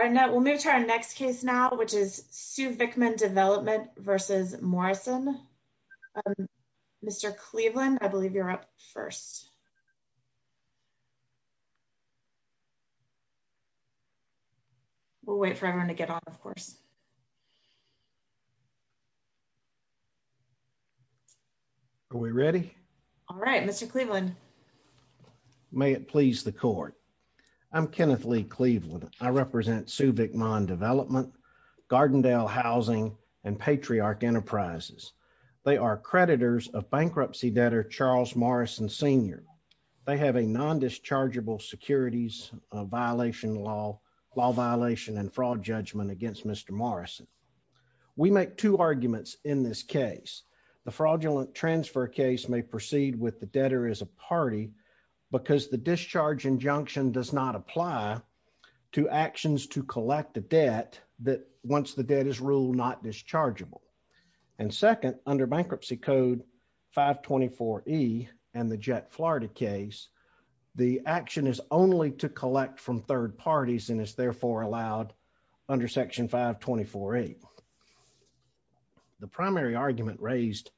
All right, now we'll move to our next case now, which is SuVicMon Development v. Morrison. Mr. Cleveland, I believe you're up first. We'll wait for everyone to get on, of course. Are we ready? All right, Mr. Cleveland. May it please the court. I'm Kenneth Lee Cleveland. I represent SuVicMon Development, Gardendale Housing, and Patriarch Enterprises. They are creditors of bankruptcy debtor Charles Morrison, Sr. They have a non-dischargeable securities violation law, law violation, and fraud judgment against Mr. Morrison. We make two arguments in this case. The fraudulent transfer case may proceed with the debtor as a party because the discharge injunction does not apply to actions to collect a debt that, once the debt is ruled not dischargeable. And second, under Bankruptcy Code 524E and the Jet Florida case, the action is only to collect from third parties and is therefore allowed under Section 524A. The primary argument raised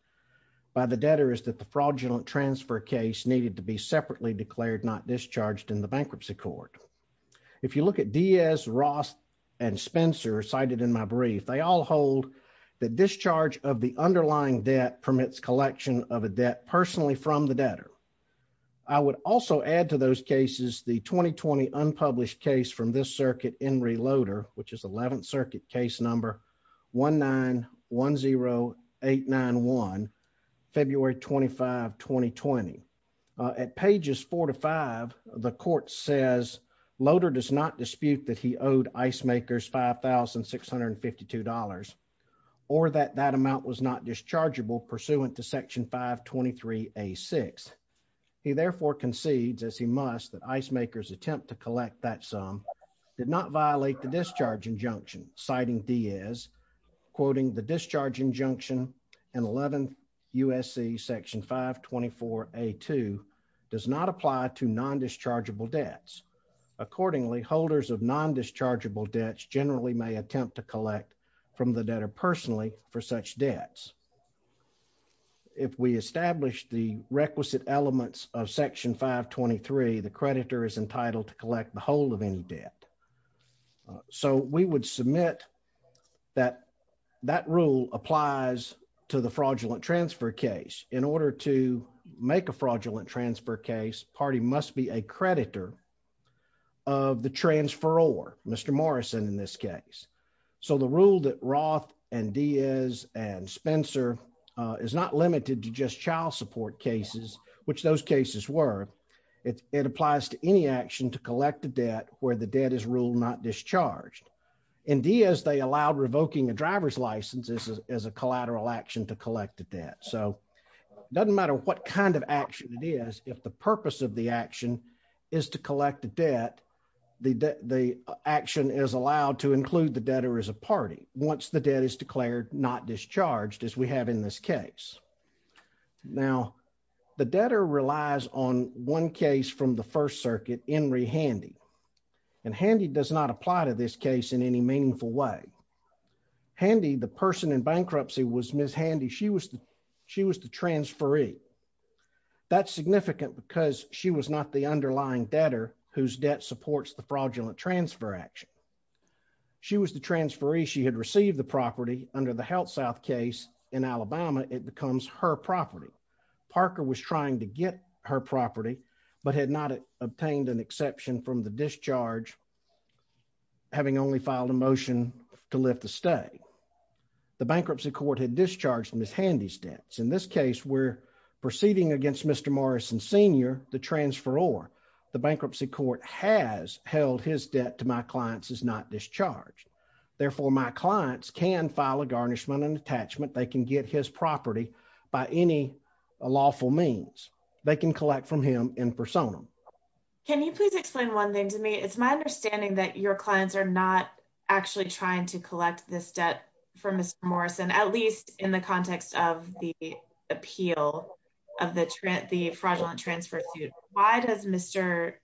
by the debtor is that the fraudulent transfer case needed to be separately declared not discharged in the Bankruptcy Court. If you look at Diaz, Ross, and Spencer cited in my brief, they all hold that discharge of the underlying debt permits collection of a debt personally from the debtor. I would also add to those cases the 2020 unpublished case from this circuit, Enri Loader, which is 11th Circuit Case Number 1910891, February 25, 2020. At pages 4 to 5, the court says Loader does not dispute that he owed ice makers $5,652 or that that amount was not dischargeable pursuant to Section 523A. He therefore concedes, as he must, that ice makers attempt to collect that sum did not violate the discharge injunction, citing Diaz, quoting the discharge injunction in 11th USC Section 524A2 does not apply to non-dischargeable debts. Accordingly, holders of non-dischargeable debts generally may attempt to collect from the debtor personally for such debts. If we establish the requisite elements of Section 523, the creditor is entitled to collect the whole of any debt. So we would submit that that rule applies to the fraudulent transfer case. In order to make a fraudulent transfer case, party must be a creditor of the transferor, Mr. Morrison in this case. So the rule that Roth and Diaz and Spencer is not limited to just child support cases, which those cases were, it applies to any action to collect a debt where the debt is ruled not discharged. In Diaz, they allowed revoking a driver's license as a collateral action to collect the debt. So it doesn't matter what kind of action it is, if the purpose of the action is to collect the debt, the action is allowed to include the debtor as a party once the debt is declared not discharged, as we have in this case. Now, the debtor relies on one case from the First Circuit, Henry Handy. And Handy does not apply to this case in any meaningful way. Handy, the person in bankruptcy was Ms. Handy, she was the transferee. That's significant because she was not the underlying debtor whose debt supports the fraudulent transfer action. She was the transferee, she had received the property under the HealthSouth case in Alabama, it becomes her property. Parker was trying to get her property, but had not obtained an exception from the discharge, having only filed a motion to lift the stay. The bankruptcy court had discharged Ms. Handy's debts. In this case, we're proceeding against Mr. Morrison Sr., the transferor. The bankruptcy court has held his debt to my clients as not discharged. Therefore, my clients can file a garnishment and attachment, they can get his property by any lawful means. They can collect from him in personam. Can you please explain one thing to me? It's my understanding that your clients are not actually trying to collect this debt from Mr. Morrison, at least in the context of the appeal of the fraudulent transfer suit. Why does Mr.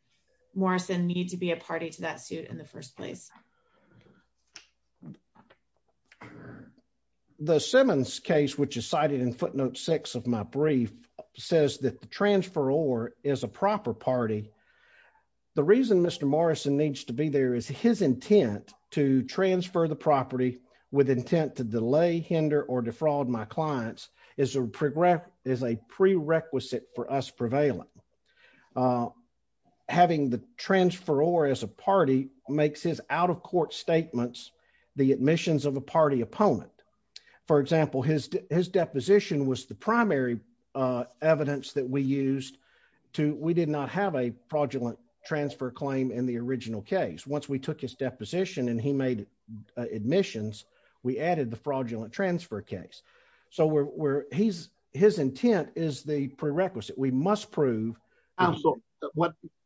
Morrison need to be a party to that suit in the first place? The Simmons case, which is cited in footnote six of my brief, says that the transferor is a proper party. The reason Mr. Morrison needs to be there is his intent to transfer the property with intent to delay, hinder, or defraud my clients is a prerequisite for us prevailing. Having the transferor as a party makes his out-of-court statements the admissions of a party opponent. For example, his deposition was the primary evidence that we used. We did not have a fraudulent transfer claim in the original case. Once we took his deposition and he made admissions, we added the fraudulent transfer case. His intent is the prerequisite. We must prove.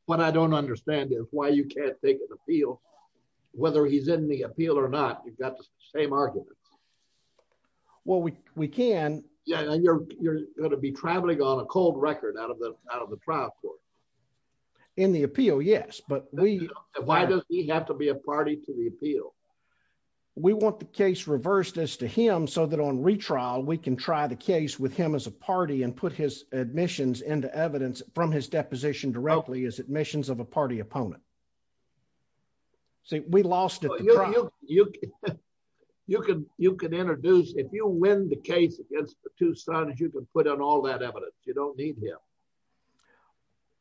What I don't understand is why you can't take an appeal. Whether he's in the appeal or not, you've got the same arguments. Well, we can. You're going to be traveling on a cold record out of the trial court. In the appeal, yes. Why does he have to be a party to the appeal? We want the case reversed as to him so that on retrial we can try the case with him as a party and put his admissions into evidence from his deposition directly as admissions of a party opponent. See, we lost it. You can introduce, if you win the case against the two sons, you can put on all that evidence. You don't need him.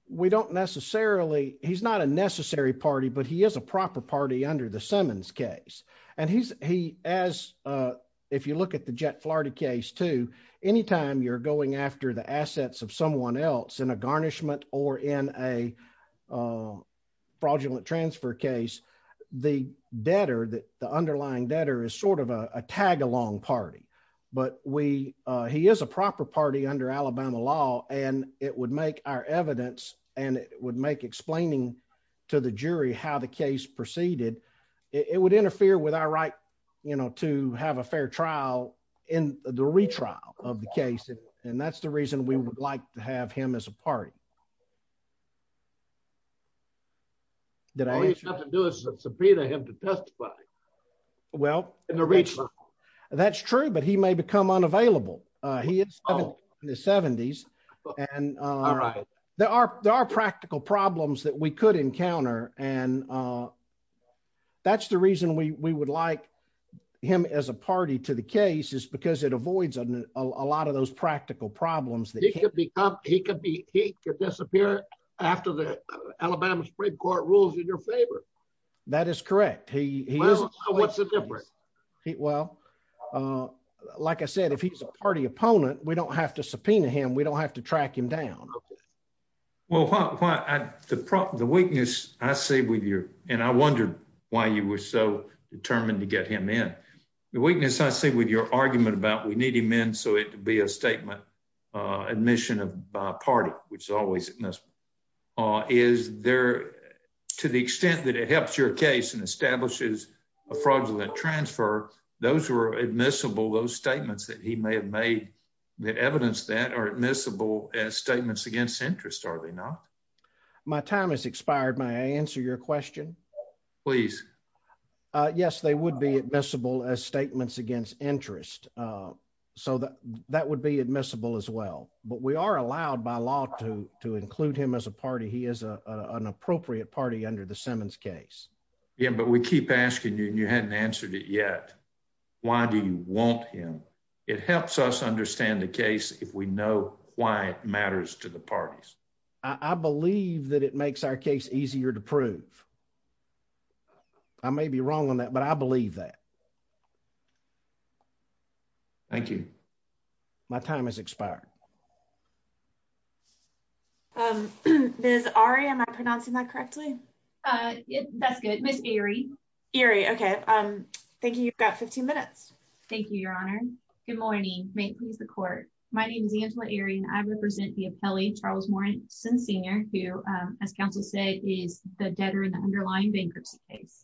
We don't necessarily he's not a necessary party, but he is a proper party under the Simmons case. And he's he as if you look at the jet Florida case to anytime you're going after the assets of someone else in a garnishment or in a fraudulent transfer case, the debtor that the underlying debtor is sort of a tag along party. But we, he is a proper party under Alabama law, and it would make our evidence, and it would make explaining to the jury how the case proceeded, it would interfere with our right, you know, to have a fair trial in the retrial of the case. And that's the reason we would like to have him as a party. Did I have to do is subpoena him to testify. Well, in the region. That's true, but he may become unavailable. He is the 70s. And there are there are practical problems that we could encounter and that's the reason we would like him as a party to the case is because it avoids a lot of those practical problems that he could be he could be he could disappear. After the Alabama Supreme Court rules in your favor. That is correct. He was a different heat well. Like I said, if he's a party opponent, we don't have to subpoena him we don't have to track him down. Well, the problem the weakness, I say with your, and I wondered why you were so determined to get him in the weakness I see with your argument about we need him in so it to be a statement admission of party, which is always. Is there, to the extent that it helps your case and establishes a fraudulent transfer. Those were admissible those statements that he may have made the evidence that are admissible as statements against interest are they not. My time has expired my answer your question, please. Yes, they would be admissible as statements against interest. So that that would be admissible as well, but we are allowed by law to to include him as a party he is an appropriate party under the Simmons case. Yeah, but we keep asking you and you hadn't answered it yet. Why do you want him. It helps us understand the case, if we know why it matters to the parties. I believe that it makes our case easier to prove. I may be wrong on that but I believe that. Thank you. My time has expired. There's already I'm not pronouncing that correctly. That's good. Miss Erie, Erie. Okay. Thank you. You've got 15 minutes. Thank you, Your Honor. Good morning. May it please the court. My name is Angela area and I represent the appellee Charles Warren since senior who, as counsel said, is the debtor in the underlying bankruptcy case.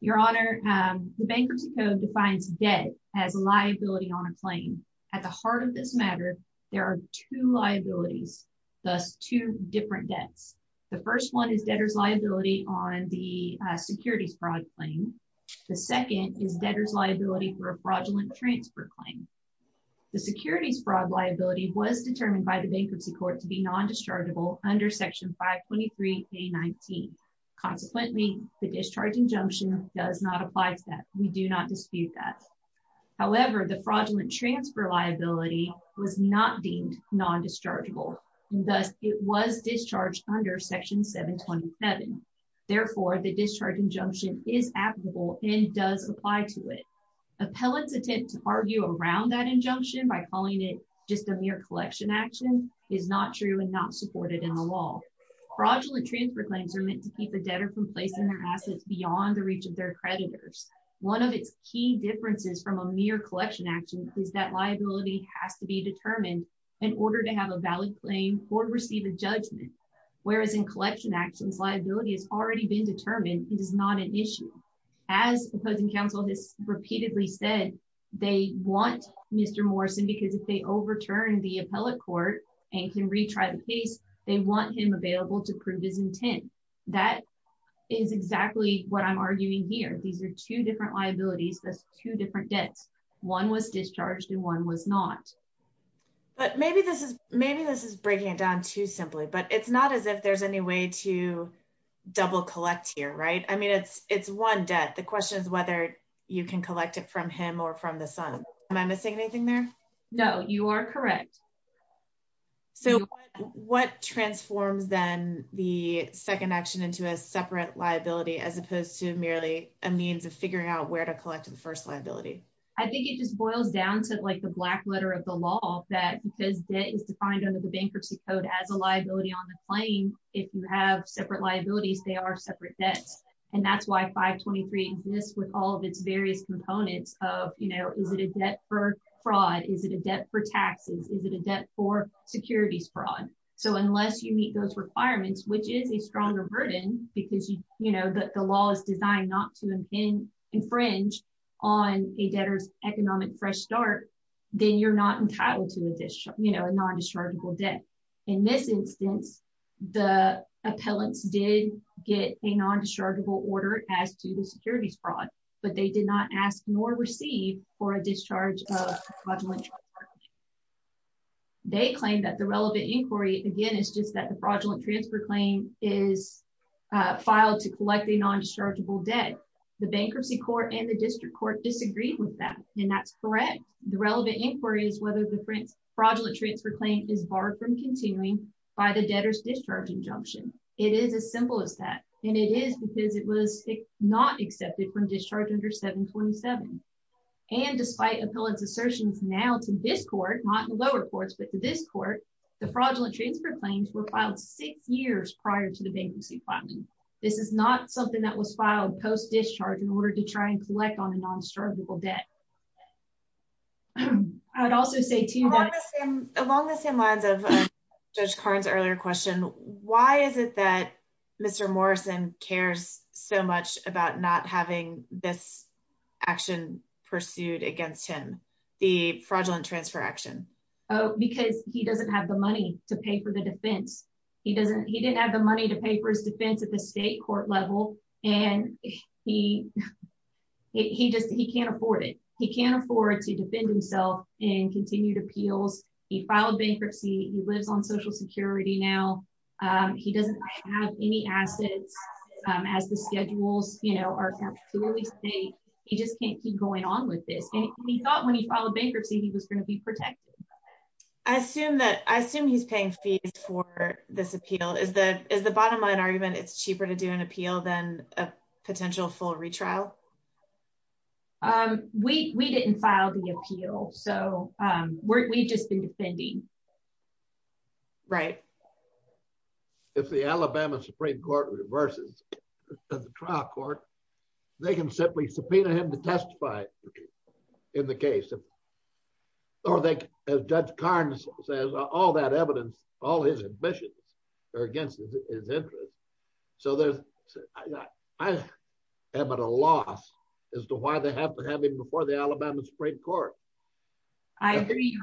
Your Honor, the bankruptcy code defines debt as a liability on a plane. At the heart of this matter, there are two liabilities. Thus, two different debts. The first one is debtors liability on the securities fraud claim. The second is debtors liability for a fraudulent transfer claim. The securities fraud liability was determined by the bankruptcy court to be non dischargeable under section 523 a 19. Consequently, the discharge injunction does not apply to that we do not dispute that. However, the fraudulent transfer liability was not deemed non dischargeable. Thus, it was discharged under section 727. Therefore, the discharge injunction is applicable and does apply to it. Appellants attempt to argue around that injunction by calling it just a mere collection action is not true and not supported in the law fraudulent transfer claims are meant to keep the debtor from placing their assets beyond the reach of their creditors. One of its key differences from a mere collection action is that liability has to be determined in order to have a valid claim or receive a judgment. Whereas in collection actions liability has already been determined, it is not an issue as opposing counsel has repeatedly said they want Mr. Morrison because if they overturn the appellate court and can retry the case, they want him available to prove his intent. That is exactly what I'm arguing here. These are two different liabilities. That's two different debts. One was discharged and one was not. But maybe this is maybe this is breaking it down to simply but it's not as if there's any way to double collect here right I mean it's it's one debt. The question is whether you can collect it from him or from the sun. Am I missing anything there. No, you are correct. So, what transforms then the second action into a separate liability as opposed to merely a means of figuring out where to collect the first liability. I think it just boils down to like the black letter of the law that because it is defined under the bankruptcy code as a liability on the plane. If you have separate liabilities they are separate debts. And that's why 523 exists with all of its various components of, you know, is it a debt for fraud, is it a debt for taxes, is it a debt for securities fraud. So unless you meet those requirements which is a stronger burden, because you know that the law is designed not to infringe on a debtor's economic fresh start, then you're not entitled to a discharge, you know, a non-dischargeable debt. In this instance, the appellants did get a non-dischargeable order as to the securities fraud, but they did not ask nor receive for a discharge. They claim that the relevant inquiry again is just that the fraudulent transfer claim is filed to collect the non-dischargeable debt. The bankruptcy court and the district court disagreed with that, and that's correct. The relevant inquiry is whether the fraudulent transfer claim is barred from continuing by the debtor's discharge injunction. It is as simple as that, and it is because it was not accepted from discharge under 727. And despite appellant's assertions now to this court, not the lower courts, but to this court, the fraudulent transfer claims were filed six years prior to the bankruptcy filing. This is not something that was filed post-discharge in order to try and collect on a non-dischargeable debt. Along the same lines of Judge Karn's earlier question, why is it that Mr. Morrison cares so much about not having this action pursued against him, the fraudulent transfer action? Because he doesn't have the money to pay for the defense. He didn't have the money to pay for his defense at the state court level, and he can't afford it. He can't afford to defend himself in continued appeals. He filed bankruptcy. He lives on Social Security now. He doesn't have any assets, as the schedules are clearly state. He just can't keep going on with this, and he thought when he filed bankruptcy, he was going to be protected. I assume he's paying fees for this appeal. Is the bottom line argument it's cheaper to do an appeal than a potential full retrial? We didn't file the appeal, so we've just been defending. Right. If the Alabama Supreme Court reverses the trial court, they can simply subpoena him to testify in the case, or they can, as Judge Karn says, all that evidence, all his ambitions are against his interest. I am at a loss as to why they have to have him before the Alabama Supreme Court. I agree.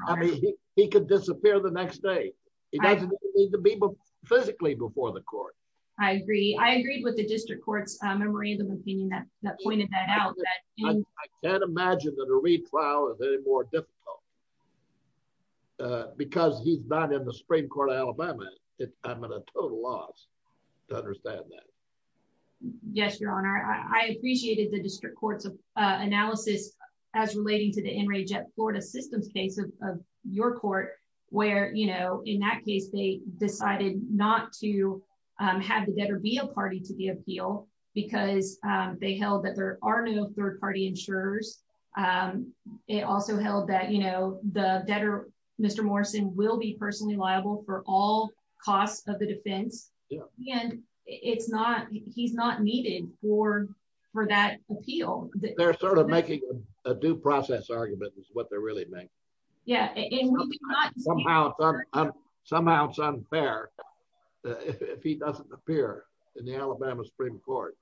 He could disappear the next day. He doesn't need to be physically before the court. I agree. I agree with the district court's memorandum of opinion that pointed that out. I can't imagine that a retrial is any more difficult because he's not in the Supreme Court of Alabama. I'm at a total loss to understand that. Yes, Your Honor. I appreciated the district court's analysis as relating to the Enraged Florida Systems case of your court, where in that case, they decided not to have the debtor be a party to the appeal because they held that there are no third-party insurers. It also held that the debtor, Mr. Morrison, will be personally liable for all costs of the defense, and he's not needed for that appeal. They're sort of making a due process argument is what they're really making. Yeah. Somehow it's unfair if he doesn't appear in the Alabama Supreme Court.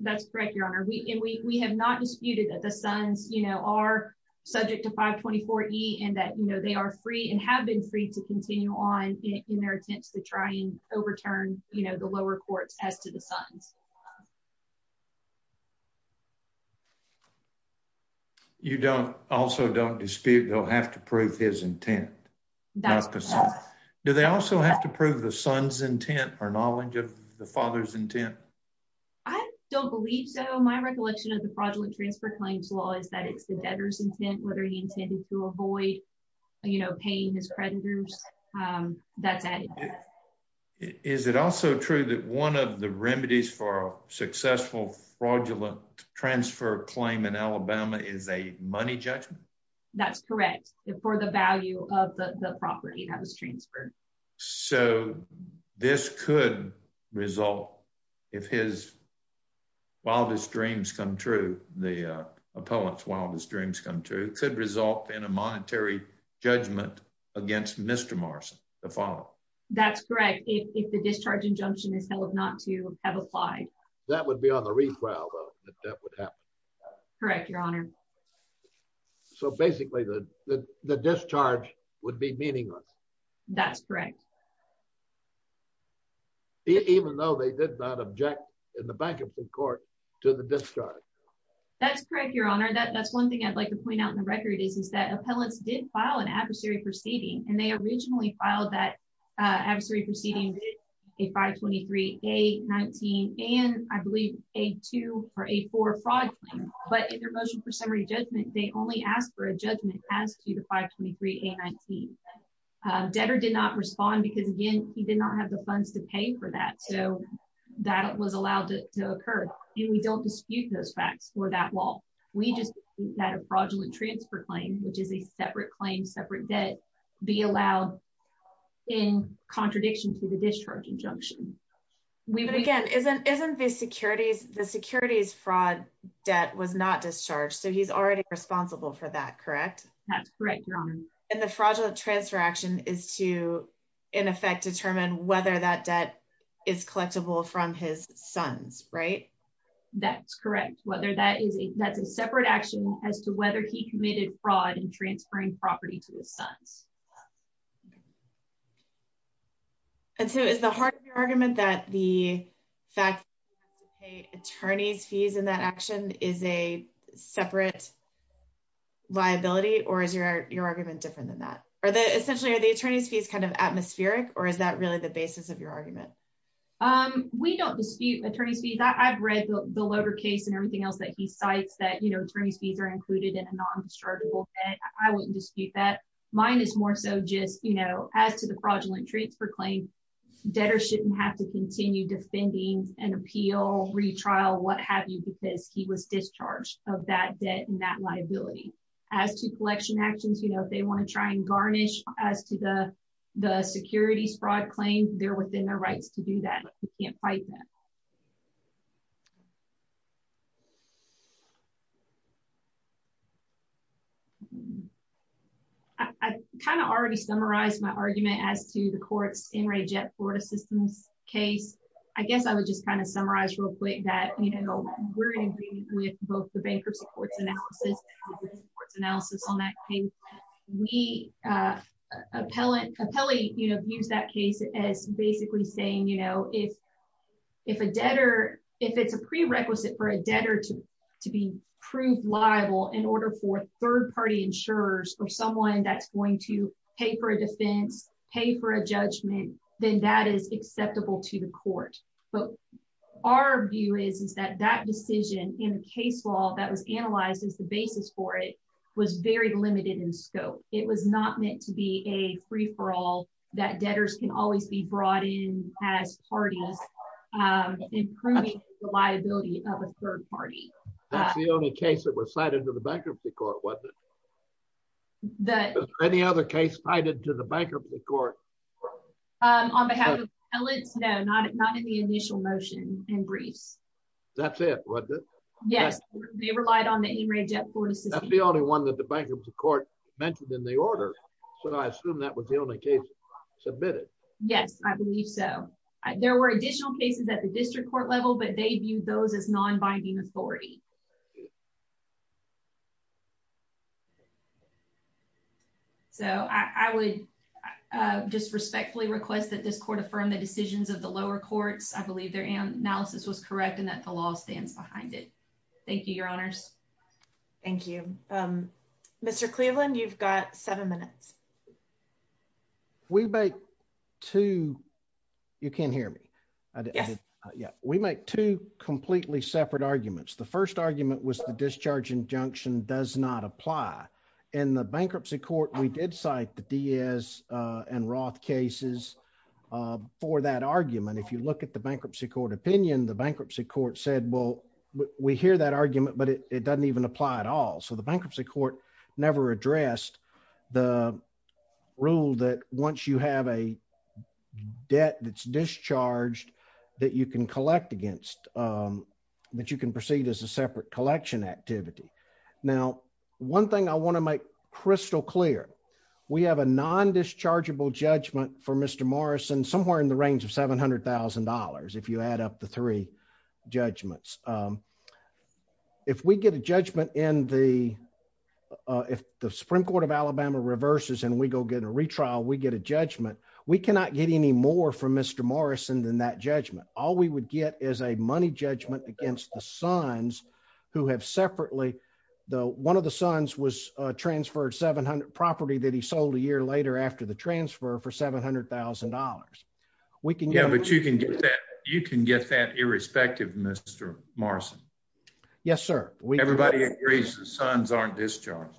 That's correct, Your Honor. We have not disputed that the sons are subject to 524E and that they are free and have been free to continue on in their attempts to try and overturn the lower courts as to the sons. You also don't dispute they'll have to prove his intent. That's correct. Do they also have to prove the son's intent or knowledge of the father's intent? I don't believe so. My recollection of the fraudulent transfer claims law is that it's the debtor's intent, whether he intended to avoid paying his creditors. That's added. Is it also true that one of the remedies for a successful fraudulent transfer claim in Alabama is a money judgment? That's correct. For the value of the property that was transferred. So this could result, if his wildest dreams come true, the appellant's wildest dreams come true, could result in a monetary judgment against Mr. Morrison to follow. That's correct. If the discharge injunction is held not to have applied. That would be on the retrial, though, if that would happen. Correct, Your Honor. So basically, the discharge would be meaningless. That's correct. Even though they did not object in the back of the court to the discharge. That's correct, Your Honor. That's one thing I'd like to point out in the record is that appellants did file an adversary proceeding, and they originally filed that adversary proceeding, a 523-A-19, and I believe a 2 or a 4 fraud claim. But in their motion for summary judgment, they only asked for a judgment as to the 523-A-19. Debtor did not respond because, again, he did not have the funds to pay for that, so that was allowed to occur. And we don't dispute those facts for that law. We just that a fraudulent transfer claim, which is a separate claim, separate debt, be allowed in contradiction to the discharge injunction. But again, isn't the securities fraud debt was not discharged, so he's already responsible for that, correct? That's correct, Your Honor. And the fraudulent transfer action is to, in effect, determine whether that debt is collectible from his sons, right? That's correct. That's a separate action as to whether he committed fraud in transferring property to his sons. And so is the heart of your argument that the fact that he had to pay attorney's fees in that action is a separate liability, or is your argument different than that? Essentially, are the attorney's fees kind of atmospheric, or is that really the basis of your argument? We don't dispute attorney's fees. I've read the Loder case and everything else that he cites that attorney's fees are included in a non-dischargeable debt. I wouldn't dispute that. It's more so just, you know, as to the fraudulent transfer claim, debtors shouldn't have to continue defending an appeal, retrial, what have you, because he was discharged of that debt and that liability. As to collection actions, you know, if they want to try and garnish as to the securities fraud claim, they're within their rights to do that. You can't fight that. I kind of already summarized my argument as to the courts in Ray Jett Florida Systems case. I guess I would just kind of summarize real quick that, you know, we're in agreement with both the bankruptcy court's analysis and the bankruptcy court's analysis on that case. Appellate used that case as basically saying, you know, if it's a prerequisite for a debtor to be proved liable in order for third party insurers or someone that's going to pay for a defense, pay for a judgment, then that is acceptable to the court. But our view is, is that that decision in the case law that was analyzed as the basis for it was very limited in scope. It was not meant to be a free for all that debtors can always be brought in as parties, improving the liability of a third party. That's the only case that was cited to the bankruptcy court, wasn't it? Any other case cited to the bankruptcy court? On behalf of the appellate? No, not in the initial motion and briefs. That's it, wasn't it? Yes, they relied on the Ray Jett Florida Systems case. That's the only one that the bankruptcy court mentioned in the order. So I assume that was the only case submitted. Yes, I believe so. There were additional cases at the district court level, but they viewed those as non-binding authority. So I would just respectfully request that this court affirm the decisions of the lower courts. I believe their analysis was correct and that the law stands behind it. Thank you, your honors. Thank you. Mr. Cleveland, you've got seven minutes. We make two. You can't hear me. Yeah, we make two completely separate arguments. The first argument was the discharge injunction does not apply in the bankruptcy court. We did cite the Diaz and Roth cases for that argument. If you look at the bankruptcy court opinion, the bankruptcy court said, well, we hear that argument, but it doesn't even apply at all. So the bankruptcy court never addressed the rule that once you have a debt that's discharged that you can collect against, that you can proceed as a separate collection activity. Now, one thing I want to make crystal clear, we have a non-dischargeable judgment for Mr. Morrison somewhere in the range of $700,000 if you add up the three judgments. If we get a judgment in the, if the Supreme Court of Alabama reverses and we go get a retrial, we get a judgment. We cannot get any more from Mr. Morrison than that judgment. All we would get is a money judgment against the sons who have separately, one of the sons was transferred property that he sold a year later after the transfer for $700,000. Yeah, but you can get that irrespective, Mr. Morrison. Yes, sir. Everybody agrees the sons aren't discharged.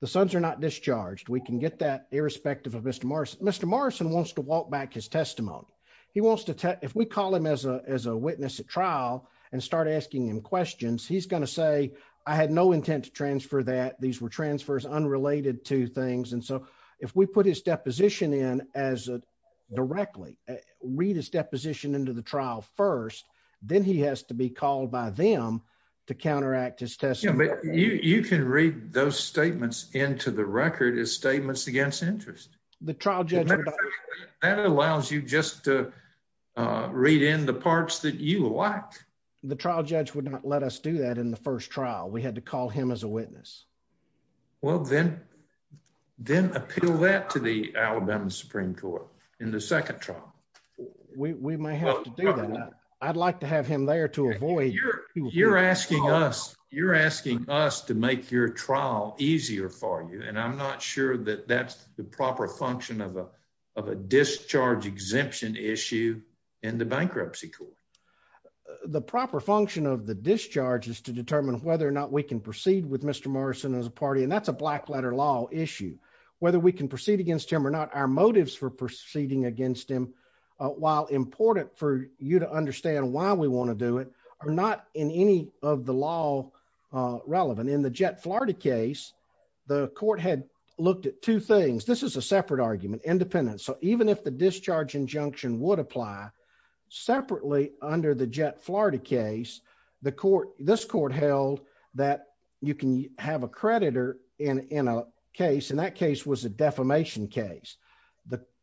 The sons are not discharged. We can get that irrespective of Mr. Morrison. Mr. Morrison wants to walk back his testimony. If we call him as a witness at trial and start asking him questions, he's going to say, I had no intent to transfer that. These were transfers unrelated to things. If we put his deposition in as directly, read his deposition into the trial first, then he has to be called by them to counteract his testimony. You can read those statements into the record as statements against interest. That allows you just to read in the parts that you like. The trial judge would not let us do that in the first trial. We had to call him as a witness. Well, then appeal that to the Alabama Supreme Court in the second trial. We may have to do that. I'd like to have him there to avoid... You're asking us to make your trial easier for you, and I'm not sure that that's the proper function of a discharge exemption issue in the bankruptcy court. The proper function of the discharge is to determine whether or not we can proceed with Mr. Morrison as a party, and that's a black letter law issue. Whether we can proceed against him or not, our motives for proceeding against him, while important for you to understand why we want to do it, are not in any of the law relevant. In the Jet Florida case, the court had looked at two things. This is a separate argument, independent. Even if the discharge injunction would apply, separately under the Jet Florida case, this court held that you can have a creditor in a case, and that case was a defamation case.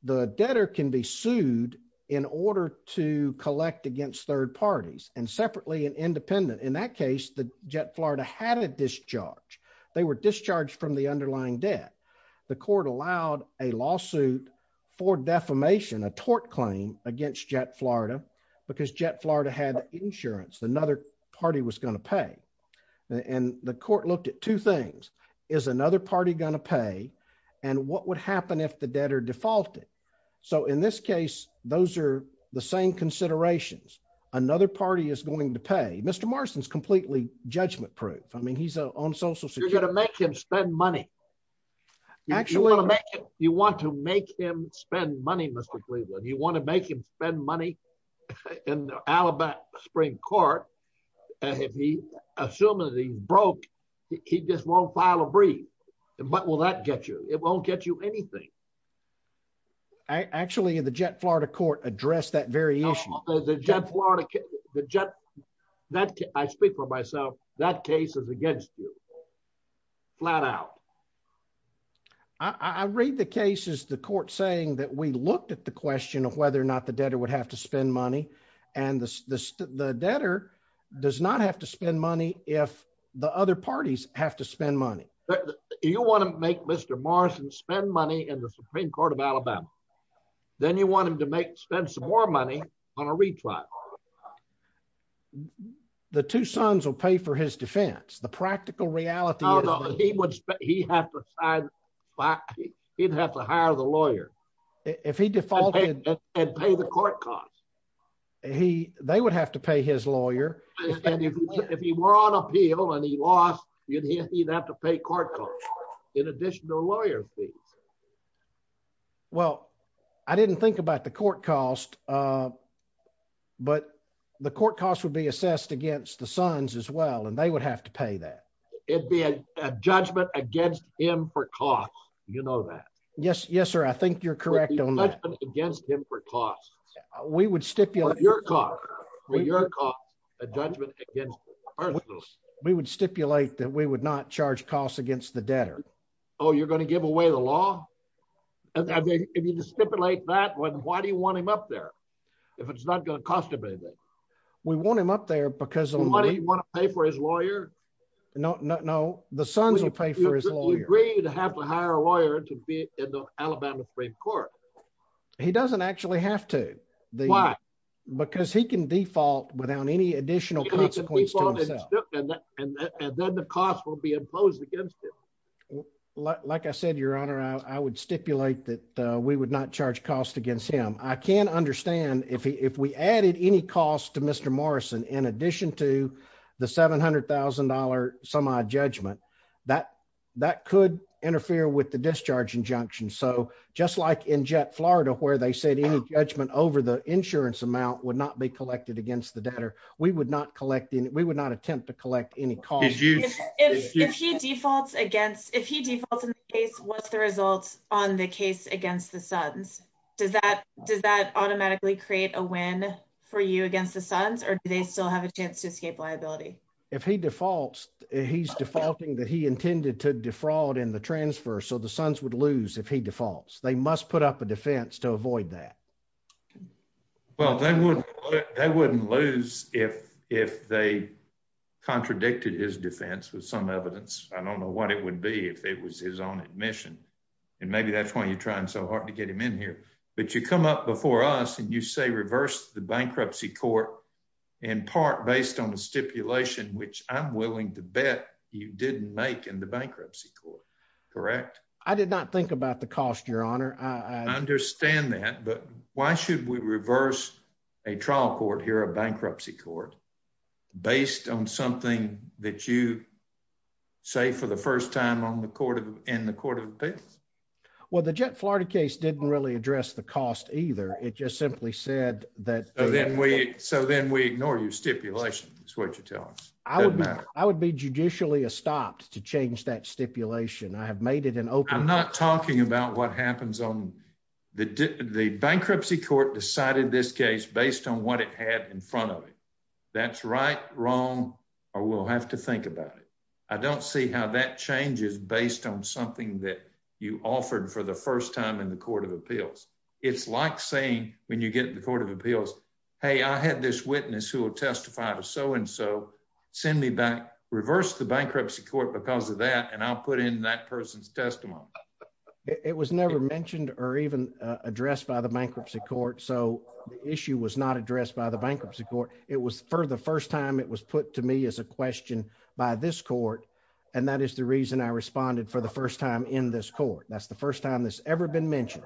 The debtor can be sued in order to collect against third parties, and separately and independent. In that case, the Jet Florida had a discharge. They were discharged from the underlying debt. The court allowed a lawsuit for defamation, a tort claim against Jet Florida, because Jet Florida had insurance another party was going to pay. The court looked at two things. Is another party going to pay, and what would happen if the debtor defaulted? In this case, those are the same considerations. Another party is going to pay. Mr. Morrison is completely judgment-proof. He's on social security. You're going to make him spend money. You want to make him spend money, Mr. Cleveland. You want to make him spend money in the Alabama Supreme Court. If he assumes that he's broke, he just won't file a brief. What will that get you? It won't get you anything. Actually, the Jet Florida court addressed that very issue. I speak for myself. That case is against you, flat out. I read the cases, the court saying that we looked at the question of whether or not the debtor would have to spend money, and the debtor does not have to spend money if the other parties have to spend money. You want to make Mr. Morrison spend money in the Supreme Court of Alabama. Then you want him to spend some more money on a retrial. The two sons will pay for his defense. The practical reality is that he'd have to hire the lawyer. If he defaulted. And pay the court costs. They would have to pay his lawyer. If he were on appeal and he lost, he'd have to pay court costs in addition to lawyer fees. Well, I didn't think about the court costs, but the court costs would be assessed against the sons as well, and they would have to pay that. It'd be a judgment against him for costs. You know that. Yes, sir. I think you're correct on that. We would stipulate. For your cost, a judgment against the person. We would stipulate that we would not charge costs against the debtor. Oh, you're going to give away the law? If you stipulate that, why do you want him up there? If it's not going to cost him anything. We want him up there because. Do you want to pay for his lawyer? No, the sons will pay for his lawyer. Would you agree to have to hire a lawyer to be in the Alabama Supreme Court? He doesn't actually have to. Why? Because he can default without any additional consequence to himself. And then the cost will be imposed against him. Like I said, your honor, I would stipulate that we would not charge costs against him. I can understand if we added any costs to Mr. Morrison in addition to the $700,000 semi-judgment, that could interfere with the discharge injunction. So just like in Florida, where they said any judgment over the insurance amount would not be collected against the debtor. We would not attempt to collect any costs. If he defaults in the case, what's the result on the case against the sons? Does that automatically create a win for you against the sons or do they still have a chance to escape liability? If he defaults, he's defaulting that he intended to defraud in the transfer, so the sons would lose if he defaults. They must put up a defense to avoid that. Well, they wouldn't lose if they contradicted his defense with some evidence. I don't know what it would be if it was his own admission. And maybe that's why you're trying so hard to get him in here. But you come up before us and you say reverse the bankruptcy court in part based on a stipulation, which I'm willing to bet you didn't make in the bankruptcy court, correct? I did not think about the cost, your honor. I understand that, but why should we reverse a trial court here, a bankruptcy court, based on something that you say for the first time in the court of appeals? Well, the jet Florida case didn't really address the cost either. It just simply said that. So then we ignore your stipulation. That's what you tell us. I would be judicially stopped to change that stipulation. I have made it an open. I'm not talking about what happens on the bankruptcy court decided this case based on what it had in front of it. That's right, wrong, or we'll have to think about it. I don't see how that changes based on something that you offered for the first time in the court of appeals. It's like saying when you get in the court of appeals, hey, I had this witness who will testify to so and so. Send me back, reverse the bankruptcy court because of that, and I'll put in that person's testimony. It was never mentioned or even addressed by the bankruptcy court. So the issue was not addressed by the bankruptcy court. It was for the first time. It was put to me as a question by this court. And that is the reason I responded for the first time in this court. That's the first time that's ever been mentioned.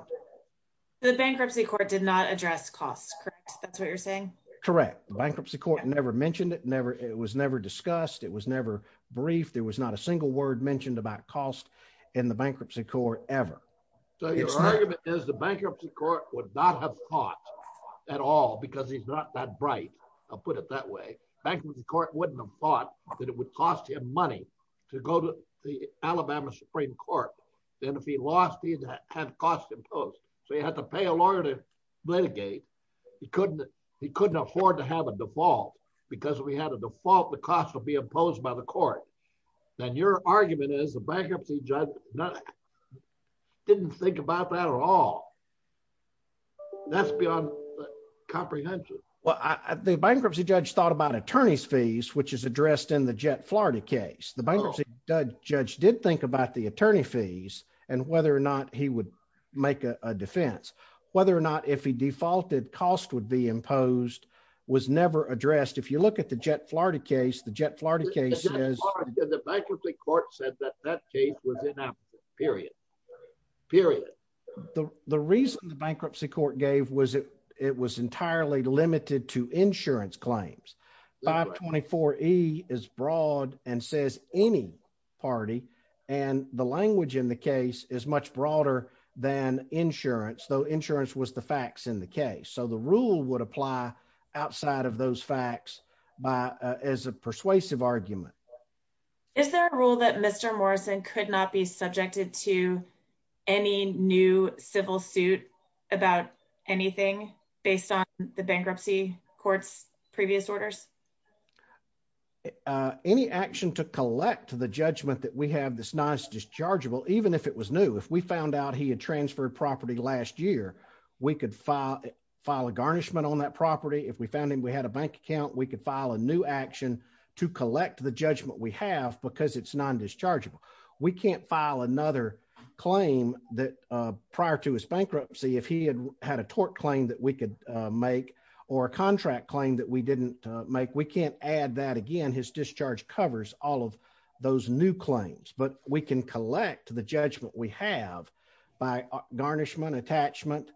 The bankruptcy court did not address costs. That's what you're saying. Correct. Bankruptcy court never mentioned it. Never. It was never discussed. It was never brief. There was not a single word mentioned about cost in the bankruptcy court ever. So your argument is the bankruptcy court would not have thought at all because he's not that bright. I'll put it that way. Bankruptcy court wouldn't have thought that it would cost him money to go to the Alabama Supreme Court. And if he lost, he'd have had costs imposed. So he had to pay a lawyer to litigate. He couldn't afford to have a default because if he had a default, the cost would be imposed by the court. And your argument is the bankruptcy judge didn't think about that at all. That's beyond comprehension. The bankruptcy judge thought about attorney's fees, which is addressed in the Jett, Florida case. The bankruptcy judge did think about the attorney fees and whether or not he would make a defense. Whether or not if he defaulted, cost would be imposed was never addressed. If you look at the Jett, Florida case, the bankruptcy court said that that case was inapplicable. Period. The reason the bankruptcy court gave was it was entirely limited to insurance claims. 524E is broad and says any party. And the language in the case is much broader than insurance, though insurance was the facts in the case. So the rule would apply outside of those facts as a persuasive argument. Is there a rule that Mr. Morrison could not be subjected to any new civil suit about anything based on the bankruptcy court's previous orders? Any action to collect the judgment that we have this non-dischargeable, even if it was new. If we found out he had transferred property last year, we could file a garnishment on that property. If we found him, we had a bank account, we could file a new action to collect the judgment we have because it's non-dischargeable. We can't file another claim that prior to his bankruptcy, if he had had a tort claim that we could make or a contract claim that we didn't make, we can't add that again. His discharge covers all of those new claims, but we can collect the judgment we have by garnishment, attachment,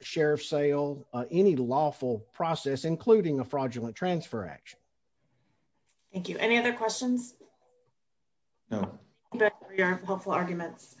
sheriff's sale, any lawful process, including a fraudulent transfer action. Thank you. Any other questions? No. Thank you for your helpful arguments.